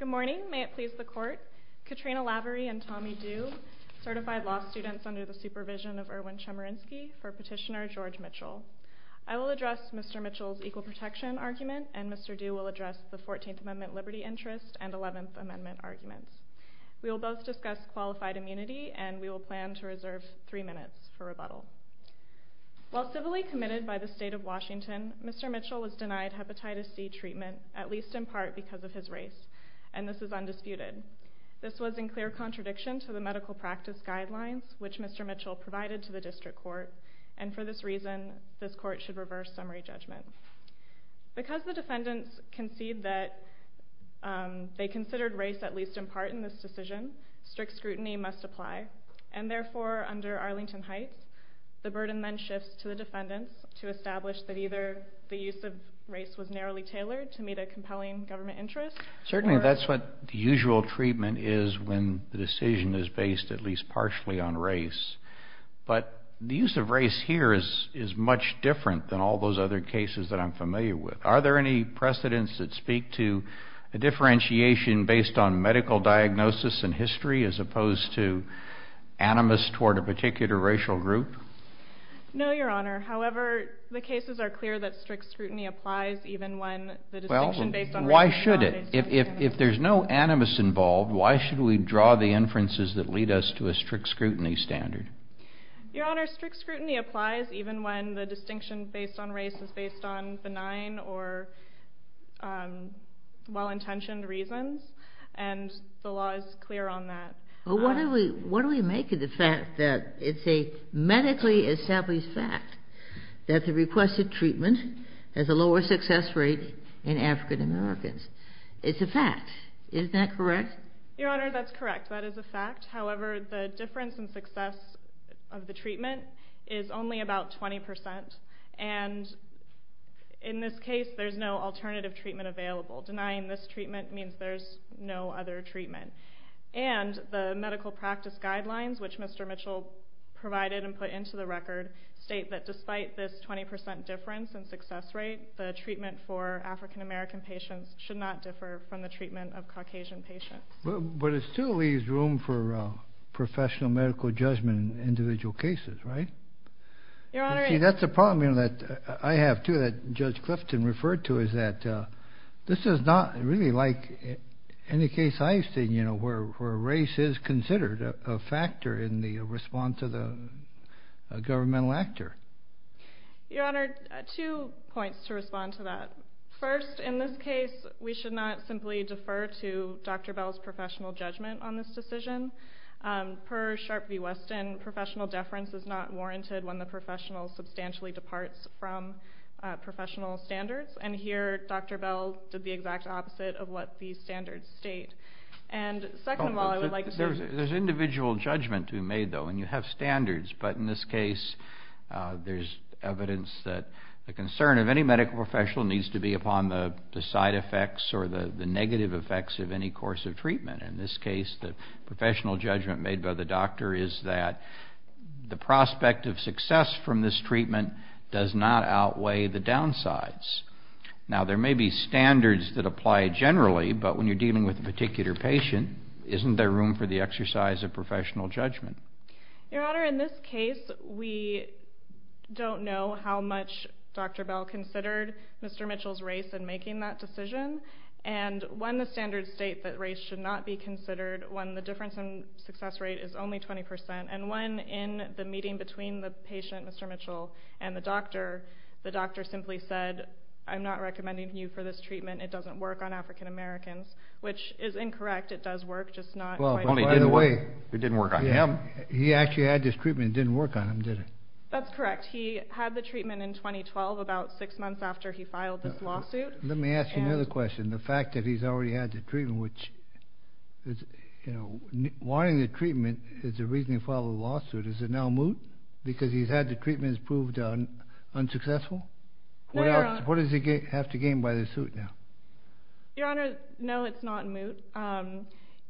Good morning, may it please the court. Katrina Lavery and Tommy Dew, certified law students under the supervision of Erwin Chemerinsky, for Petitioner George Mitchell. I will address Mr. Mitchell's equal protection argument and Mr. Dew will address the 14th Amendment liberty interest and 11th Amendment arguments. We will both discuss qualified immunity and we While civilly committed by the State of Washington, Mr. Mitchell was denied hepatitis C treatment, at least in part because of his race, and this is undisputed. This was in clear contradiction to the medical practice guidelines which Mr. Mitchell provided to the district court, and for this reason, this court should reverse summary judgment. Because the defendants concede that they considered race at least in part in this decision, strict scrutiny must apply. And therefore, under Arlington Heights, the burden then shifts to the defendants to establish that either the use of race was narrowly tailored to meet a compelling government interest Certainly that's what the usual treatment is when the decision is based at least partially on race. But the use of race here is much different than all those other cases that I'm familiar with. Are there any precedents that speak to a differentiation based on medical diagnosis and history as opposed to animus toward a particular racial group? No, Your Honor. However, the cases are clear that strict scrutiny applies even when the distinction based on race is not based on scrutiny. Well, why should it? If there's no animus involved, why should we draw the inferences that lead us to a strict scrutiny standard? Your Honor, strict scrutiny applies even when the distinction based on race is based on benign or well-intentioned reasons, and the law is clear on that. Well, what do we make of the fact that it's a medically established fact that the requested treatment has a lower success rate in African Americans? It's a fact. Isn't that correct? Your Honor, that's correct. That is a fact. However, the difference in success of the treatment is only about 20%, and in this case there's no alternative treatment available. Denying this treatment means there's no other treatment. And the medical practice guidelines, which Mr. Mitchell provided and put into the record, state that despite this 20% difference in success rate, the treatment for African American patients should not differ from the treatment of Caucasian patients. But it still leaves room for professional medical judgment in individual cases, right? You see, that's a problem that I have, too, that Judge Clifton referred to, is that this is not really like any case I've seen where race is considered a factor in the response of the governmental actor. Your Honor, two points to respond to that. First, in this case, we should not simply defer to Dr. Bell's professional judgment on this decision. Per Sharpe v. Weston, professional deference is not warranted when the professional substantially departs from professional standards, and here Dr. Bell did the exact opposite of what the standards state. There's individual judgment to be made, though, and you have standards, but in this case there's evidence that the concern of any medical professional needs to be upon the side effects or the negative effects of any course of treatment. In this case, the professional judgment made by the doctor is that the prospect of success from this treatment does not outweigh the downsides. Now, there may be standards that apply generally, but when you're dealing with a particular patient, isn't there room for the exercise of professional judgment? Your Honor, in this case, we don't know how much Dr. Bell considered Mr. Mitchell's race in making that decision, and when the standards state that race should not be considered, when the difference in success rate is only 20%, and when in the meeting between the patient, Mr. Mitchell, and the doctor, the doctor simply said, I'm not recommending you for this treatment. It doesn't work on African Americans, which is incorrect. It does work, just not quite the way. It didn't work on him. He actually had this treatment. It didn't work on him, did it? That's correct. He had the treatment in 2012, about six months after he filed this lawsuit. Let me ask you another question. The fact that he's already had the treatment, which is, you know, wanting the treatment is the reason he filed the lawsuit. Is it now moot because he's had the treatments proved unsuccessful? No, Your Honor. What does he have to gain by the suit now? Your Honor, no, it's not moot.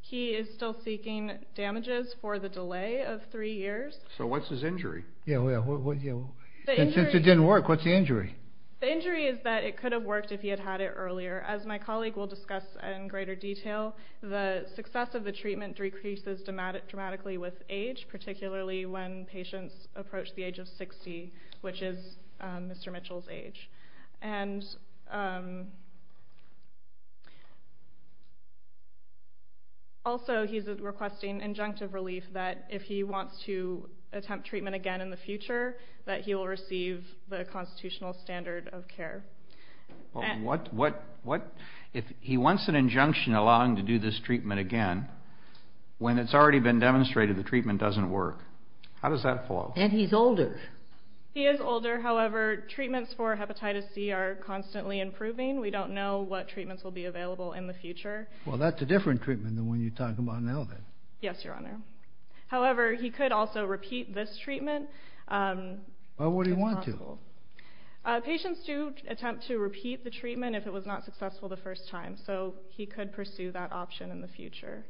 He is still seeking damages for the delay of three years. So what's his injury? Yeah, well, since it didn't work, what's the injury? The injury is that it could have worked if he had had it earlier. As my colleague will discuss in greater detail, the success of the treatment decreases dramatically with age, particularly when patients approach the age of 60, which is Mr. Mitchell's age. And also, he's requesting injunctive relief that if he wants to attempt treatment again in the future, that he will receive the constitutional standard of care. Well, what if he wants an injunction allowing him to do this treatment again when it's already been demonstrated the treatment doesn't work? How does that flow? And he's older. He is older. However, treatments for hepatitis C are constantly improving. We don't know what treatments will be available in the future. Well, that's a different treatment than the one you're talking about now, then. Yes, Your Honor. However, he could also repeat this treatment. Why would he want to? Patients do attempt to repeat the treatment if it was not successful the first time, so he could pursue that option in the future.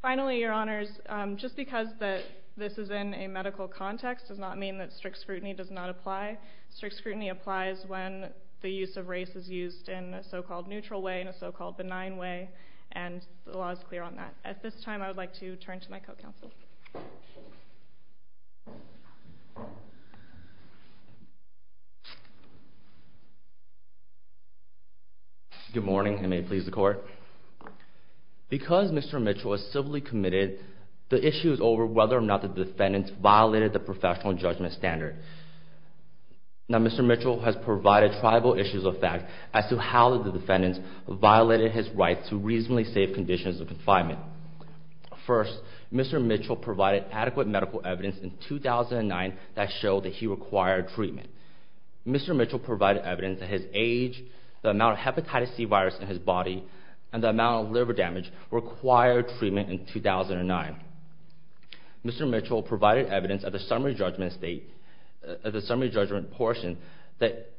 Finally, Your Honors, just because this is in a medical context does not mean that strict scrutiny does not apply. Strict scrutiny applies when the use of race is used in a so-called neutral way, in a so-called benign way, and the law is clear on that. At this time, I would like to turn to my co-counsel. Good morning, and may it please the Court. Because Mr. Mitchell is civilly committed, the issue is over whether or not the defendants violated the professional judgment standard. Now, Mr. Mitchell has provided tribal issues of fact as to how the defendants violated his right to reasonably safe conditions of confinement. Mr. Mitchell provided adequate medical evidence in 2009 that showed that he required treatment. Mr. Mitchell provided evidence that his age, the amount of hepatitis C virus in his body, and the amount of liver damage required treatment in 2009. Mr. Mitchell provided evidence at the summary judgment portion that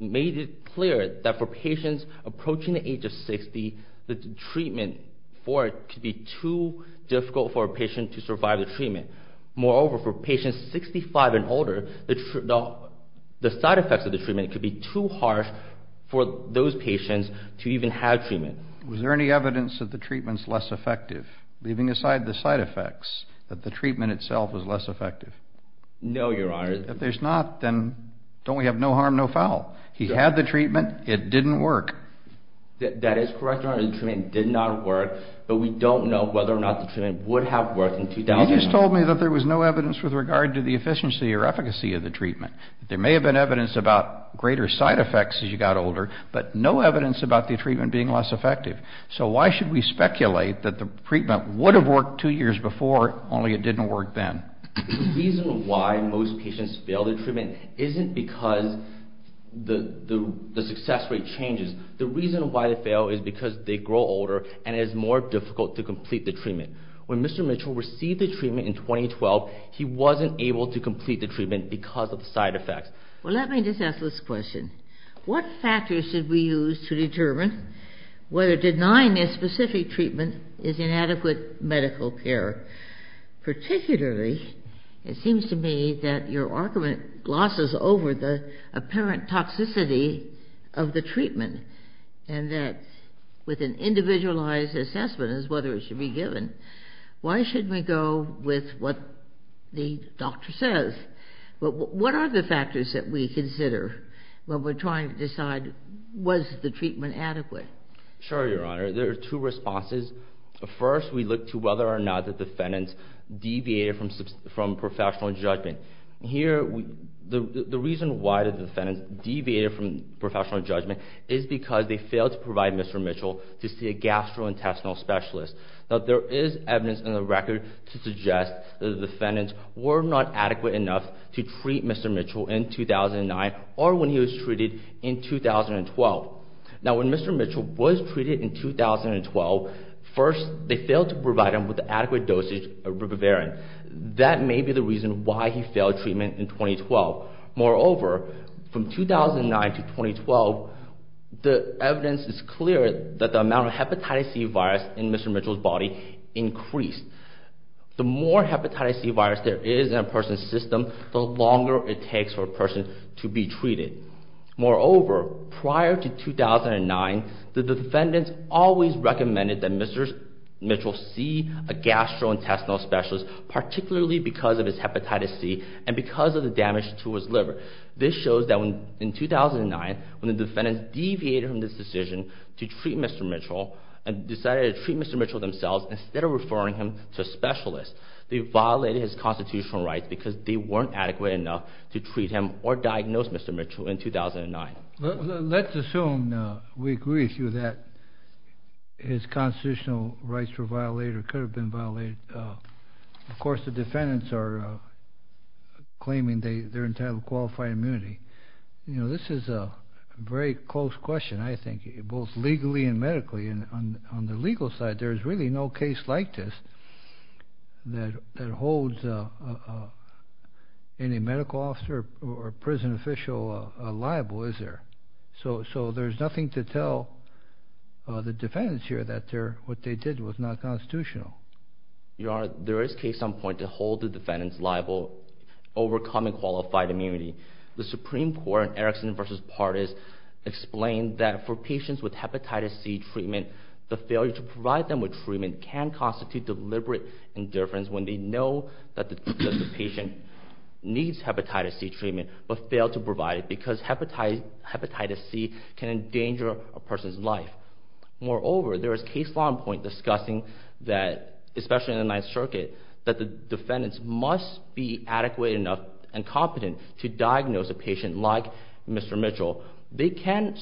made it clear that for patients approaching the age of 60, the treatment for it could be too difficult for a patient to survive the treatment. Moreover, for patients 65 and older, the side effects of the treatment could be too harsh for those patients to even have treatment. Was there any evidence that the treatment's less effective, leaving aside the side effects, that the treatment itself was less effective? No, Your Honor. If there's not, then don't we have no harm, no foul? He had the treatment. It didn't work. That is correct, Your Honor. The treatment did not work. But we don't know whether or not the treatment would have worked in 2009. You just told me that there was no evidence with regard to the efficiency or efficacy of the treatment. There may have been evidence about greater side effects as you got older, but no evidence about the treatment being less effective. So why should we speculate that the treatment would have worked two years before, only it didn't work then? The reason why most patients fail the treatment isn't because the success rate changes. The reason why they fail is because they grow older and it is more difficult to complete the treatment. When Mr. Mitchell received the treatment in 2012, he wasn't able to complete the treatment because of the side effects. Well, let me just ask this question. What factors should we use to determine whether denying this specific treatment is inadequate medical care? Particularly, it seems to me that your argument glosses over the apparent toxicity of the treatment and that with an individualized assessment as to whether it should be given, why shouldn't we go with what the doctor says? What are the factors that we consider when we're trying to decide was the treatment adequate? Sure, Your Honor. There are two responses. First, we look to whether or not the defendants deviated from professional judgment. Here, the reason why the defendants deviated from professional judgment is because they failed to provide Mr. Mitchell to see a gastrointestinal specialist. Now, there is evidence in the record to suggest that the defendants were not adequate enough to treat Mr. Mitchell in 2009 or when he was treated in 2012. Now, when Mr. Mitchell was treated in 2012, first, they failed to provide him with an adequate dosage of Ribavirin. That may be the reason why he failed treatment in 2012. Moreover, from 2009 to 2012, the evidence is clear that the amount of hepatitis C virus in Mr. Mitchell's body increased. The more hepatitis C virus there is in a person's system, the longer it takes for a person to be treated. Moreover, prior to 2009, the defendants always recommended that Mr. Mitchell see a gastrointestinal specialist, particularly because of his hepatitis C and because of the damage to his liver. This shows that in 2009, when the defendants deviated from this decision to treat Mr. Mitchell and decided to treat Mr. Mitchell themselves instead of referring him to a specialist, they violated his constitutional rights because they weren't adequate enough to treat him or diagnose Mr. Mitchell in 2009. Let's assume we agree with you that his constitutional rights were violated or could have been violated. Of course, the defendants are claiming they're entitled to qualified immunity. This is a very close question, I think, both legally and medically. On the legal side, there's really no case like this that holds any medical officer or prison official liable, is there? So there's nothing to tell the defendants here that what they did was not constitutional. Your Honor, there is case on point to hold the defendants liable, overcoming qualified immunity. The Supreme Court in Erickson v. Partis explained that for patients with hepatitis C treatment, the failure to provide them with treatment can constitute deliberate indifference when they know that the patient needs hepatitis C treatment but fail to provide it because hepatitis C can endanger a person's life. Moreover, there is case on point discussing that, especially in the Ninth Circuit, that the defendants must be adequate enough and competent to diagnose a patient like Mr. Mitchell. They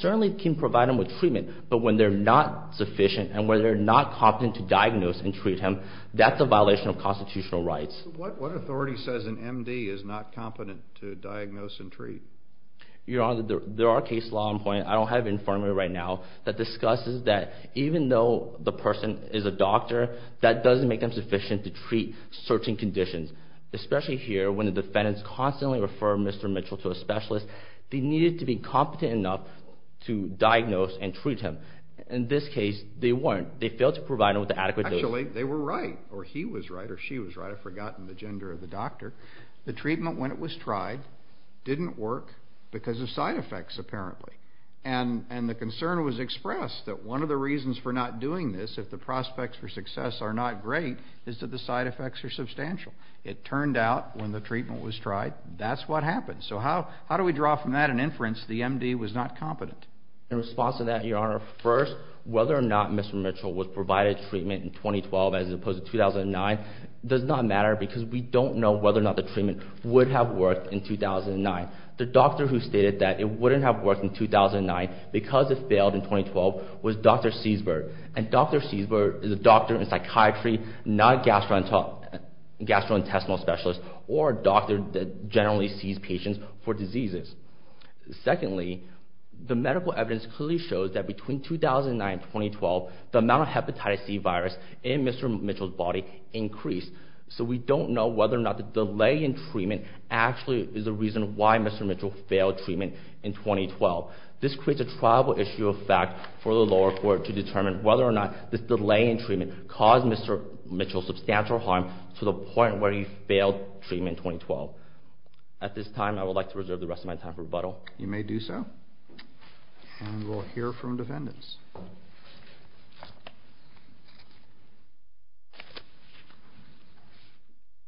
certainly can provide him with treatment, but when they're not sufficient and when they're not competent to diagnose and treat him, that's a violation of constitutional rights. What authority says an M.D. is not competent to diagnose and treat? Your Honor, there are case law on point, I don't have it in front of me right now, that discusses that even though the person is a doctor, that doesn't make them sufficient to treat certain conditions. Especially here, when the defendants constantly refer Mr. Mitchell to a specialist, they needed to be competent enough to diagnose and treat him. In this case, they weren't. They failed to provide him with the adequate dose. Actually, they were right, or he was right, or she was right. I've forgotten the gender of the doctor. The treatment, when it was tried, didn't work because of side effects, apparently. And the concern was expressed, that one of the reasons for not doing this, if the prospects for success are not great, is that the side effects are substantial. It turned out, when the treatment was tried, that's what happened. So how do we draw from that an inference that the M.D. was not competent? In response to that, Your Honor, first, whether or not Mr. Mitchell was provided treatment in 2012 as opposed to 2009, does not matter because we don't know whether or not the treatment would have worked in 2009. The doctor who stated that it wouldn't have worked in 2009 because it failed in 2012 was Dr. Seisberg. And Dr. Seisberg is a doctor in psychiatry, not a gastrointestinal specialist, or a doctor that generally sees patients for diseases. Secondly, the medical evidence clearly shows that between 2009 and 2012, the amount of hepatitis C virus in Mr. Mitchell's body increased. So we don't know whether or not the delay in treatment actually is the reason why Mr. Mitchell failed treatment in 2012. This creates a triable issue of fact for the lower court to determine whether or not this delay in treatment caused Mr. Mitchell substantial harm to the point where he failed treatment in 2012. At this time, I would like to reserve the rest of my time for rebuttal. You may do so. And we'll hear from defendants.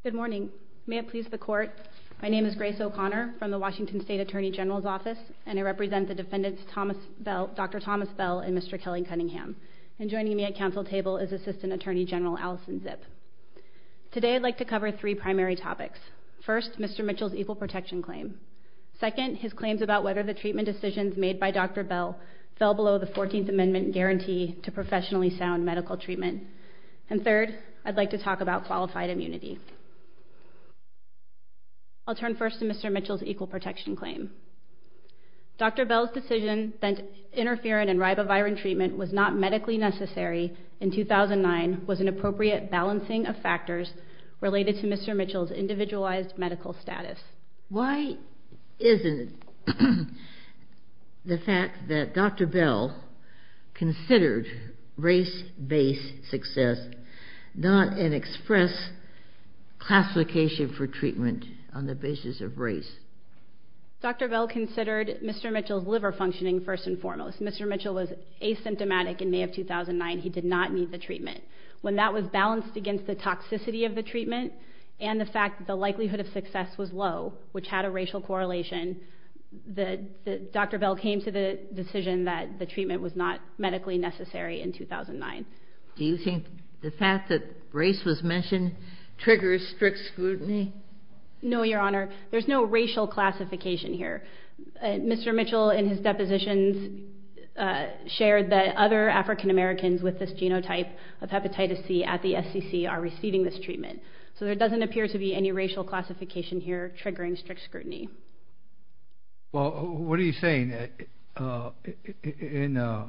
Good morning. May it please the court. My name is Grace O'Connor from the Washington State Attorney General's Office, and I represent the defendants Dr. Thomas Bell and Mr. Kelly Cunningham. And joining me at council table is Assistant Attorney General Allison Zipp. Today I'd like to cover three primary topics. First, Mr. Mitchell's equal protection claim. Second, his claims about whether the treatment decisions made by Dr. Bell fell below the 14th Amendment guarantee to professionally sound medical treatment. And third, I'd like to talk about qualified immunity. I'll turn first to Mr. Mitchell's equal protection claim. Dr. Bell's decision that interferon and ribavirin treatment was not medically necessary in 2009 was an appropriate balancing of factors related to Mr. Mitchell's individualized medical status. Why isn't the fact that Dr. Bell considered race-based success not an express classification for treatment on the basis of race? Dr. Bell considered Mr. Mitchell's liver functioning first and foremost. Mr. Mitchell was asymptomatic in May of 2009. He did not need the treatment. When that was balanced against the toxicity of the treatment and the fact that the likelihood of success was low, which had a racial correlation, Dr. Bell came to the decision that the treatment was not medically necessary in 2009. Do you think the fact that race was mentioned triggers strict scrutiny? No, Your Honor. There's no racial classification here. Mr. Mitchell in his depositions shared that other African Americans with this genotype of hepatitis C at the SEC are receiving this treatment. So there doesn't appear to be any racial classification here triggering strict scrutiny. Well, what are you saying? In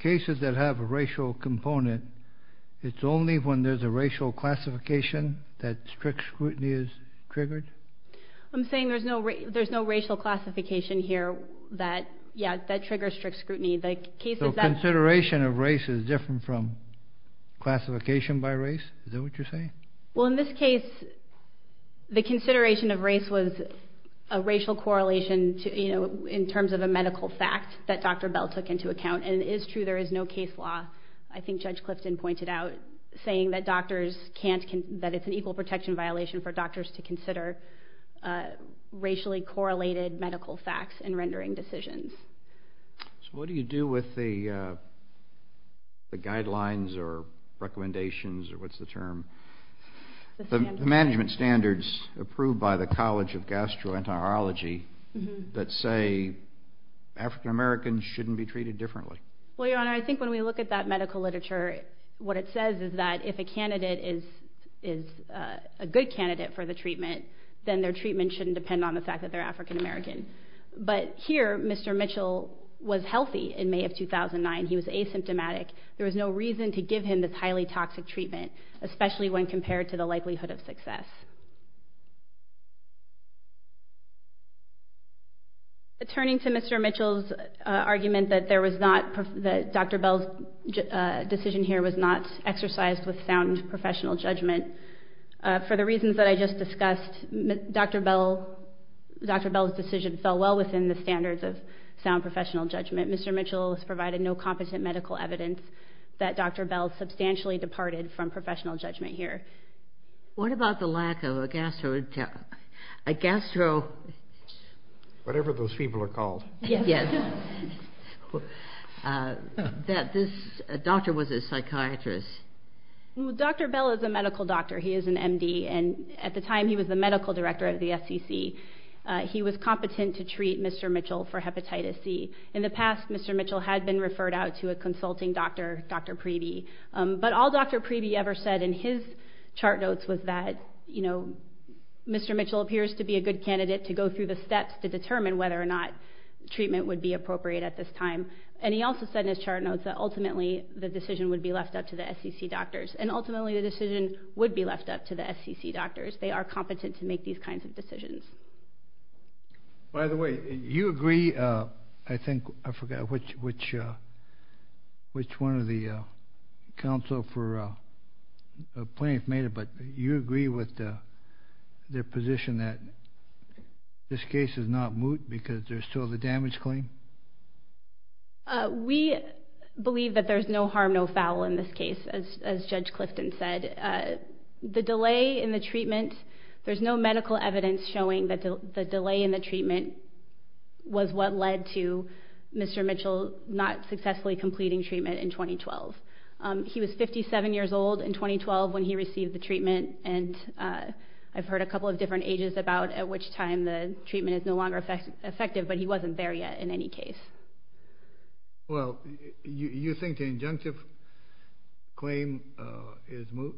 cases that have a racial component, it's only when there's a racial classification that strict scrutiny is triggered? I'm saying there's no racial classification here that triggers strict scrutiny. So consideration of race is different from classification by race? Is that what you're saying? Well, in this case, the consideration of race was a racial correlation in terms of a medical fact that Dr. Bell took into account, and it is true there is no case law, I think Judge Clifton pointed out, saying that it's an equal protection violation for doctors to consider racially correlated medical facts in rendering decisions. So what do you do with the guidelines or recommendations or what's the term? The management standards approved by the College of Gastroenterology that say African Americans shouldn't be treated differently. Well, Your Honor, I think when we look at that medical literature, what it says is that if a candidate is a good candidate for the treatment, then their treatment shouldn't depend on the fact that they're African American. But here, Mr. Mitchell was healthy in May of 2009. He was asymptomatic. There was no reason to give him this highly toxic treatment, especially when compared to the likelihood of success. Turning to Mr. Mitchell's argument that Dr. Bell's decision here was not exercised with sound professional judgment, for the reasons that I just discussed, Dr. Bell's decision fell well within the standards of sound professional judgment. Mr. Mitchell's provided no competent medical evidence that Dr. Bell substantially departed from professional judgment here. What about the lack of a gastrointestinal, a gastro... Whatever those people are called. Yes. That this doctor was a psychiatrist. Well, Dr. Bell is a medical doctor. He is an M.D., and at the time he was the medical director of the SEC. He was competent to treat Mr. Mitchell for hepatitis C. In the past, Mr. Mitchell had been referred out to a consulting doctor, Dr. Preby. But all Dr. Preby ever said in his chart notes was that, you know, Mr. Mitchell appears to be a good candidate to go through the steps to determine whether or not treatment would be appropriate at this time. And he also said in his chart notes that ultimately the decision would be left up to the SEC doctors. And ultimately the decision would be left up to the SEC doctors. They are competent to make these kinds of decisions. By the way, you agree, I think I forgot which one of the counsel for plaintiff made it, but you agree with their position that this case is not moot because there's still the damage claim? We believe that there's no harm, no foul in this case, as Judge Clifton said. The delay in the treatment, there's no medical evidence showing that the delay in the treatment was what led to Mr. Mitchell not successfully completing treatment in 2012. He was 57 years old in 2012 when he received the treatment, and I've heard a couple of different ages about at which time the treatment is no longer effective, but he wasn't there yet in any case. Well, you think the injunctive claim is moot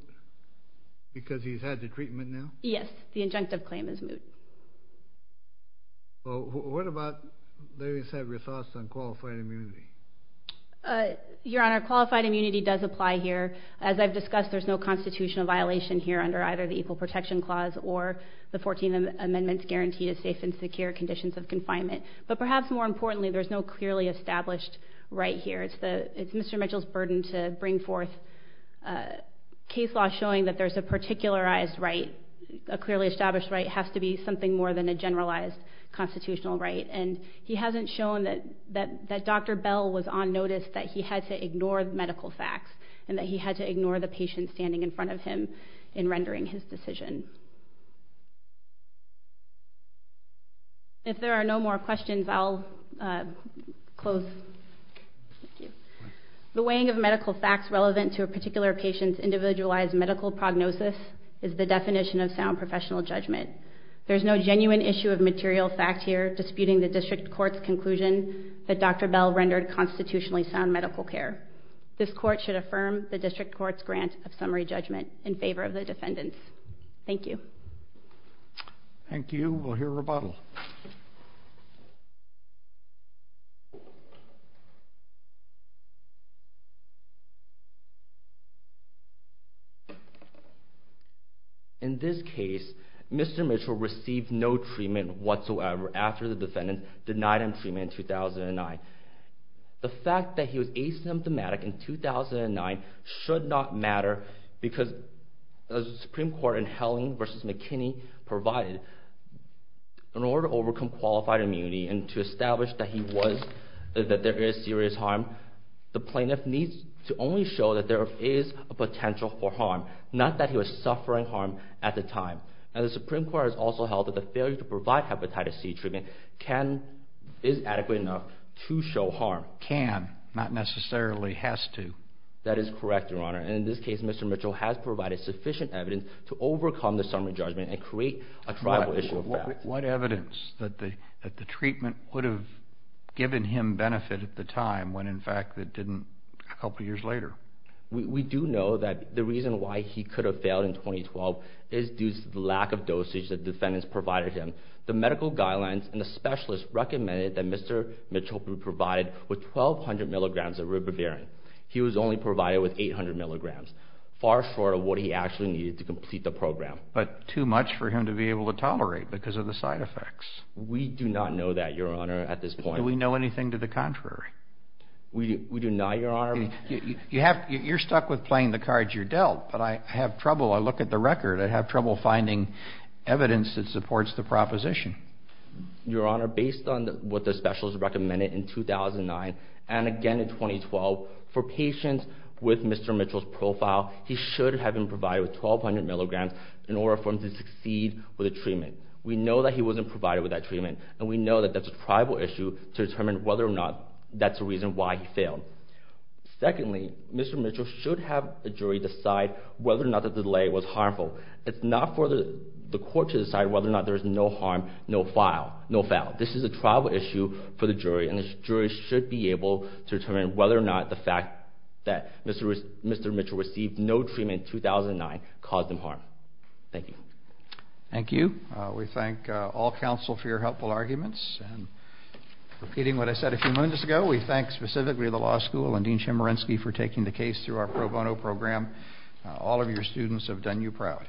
because he's had the treatment now? Yes, the injunctive claim is moot. Well, what about, ladies, have your thoughts on qualified immunity? Your Honor, qualified immunity does apply here. As I've discussed, there's no constitutional violation here under either the Equal Protection Clause or the 14th Amendment's guarantee to safe and secure conditions of confinement. But perhaps more importantly, there's no clearly established right here. It's Mr. Mitchell's burden to bring forth case law showing that there's a particularized right, a clearly established right has to be something more than a generalized constitutional right, and he hasn't shown that Dr. Bell was on notice that he had to ignore medical facts and that he had to ignore the patient standing in front of him in rendering his decision. If there are no more questions, I'll close. The weighing of medical facts relevant to a particular patient's individualized medical prognosis is the definition of sound professional judgment. There's no genuine issue of material fact here disputing the district court's conclusion that Dr. Bell rendered constitutionally sound medical care. This court should affirm the district court's grant of summary judgment in favor of the defendants. Thank you. Thank you. We'll hear rebuttal. In this case, Mr. Mitchell received no treatment whatsoever after the defendants denied him treatment in 2009. The fact that he was asymptomatic in 2009 should not matter because the Supreme Court in Helling v. McKinney provided, in order to overcome qualified immunity and to establish that there is serious harm, the plaintiff needs to only show that there is a potential for harm, not that he was suffering harm at the time. The Supreme Court has also held that the failure to provide hepatitis C treatment is adequate enough to show harm. Can, not necessarily has to. That is correct, Your Honor. In this case, Mr. Mitchell has provided sufficient evidence to overcome the summary judgment and create a tribal issue of fact. What evidence that the treatment would have given him benefit at the time when, in fact, it didn't a couple of years later? We do know that the reason why he could have failed in 2012 is due to the lack of dosage the defendants provided him. The medical guidelines and the specialists recommended that Mr. Mitchell be provided with 1,200 milligrams of ribavirin. He was only provided with 800 milligrams, far short of what he actually needed to complete the program. But too much for him to be able to tolerate because of the side effects. We do not know that, Your Honor, at this point. Do we know anything to the contrary? We do not, Your Honor. You're stuck with playing the cards you're dealt, but I have trouble, I look at the record, I have trouble finding evidence that supports the proposition. Your Honor, based on what the specialists recommended in 2009 and again in 2012, for patients with Mr. Mitchell's profile, he should have been provided with 1,200 milligrams in order for him to succeed with the treatment. We know that he wasn't provided with that treatment, and we know that that's a tribal issue to determine whether or not that's the reason why he failed. Secondly, Mr. Mitchell should have the jury decide whether or not the delay was harmful. It's not for the court to decide whether or not there is no harm, no foul. This is a tribal issue for the jury, and the jury should be able to determine whether or not the fact that Mr. Mitchell received no treatment in 2009 caused him harm. Thank you. Thank you. We thank all counsel for your helpful arguments. Repeating what I said a few minutes ago, we thank specifically the law school and Dean Chemerinsky for taking the case through our pro bono program. All of your students have done you proud.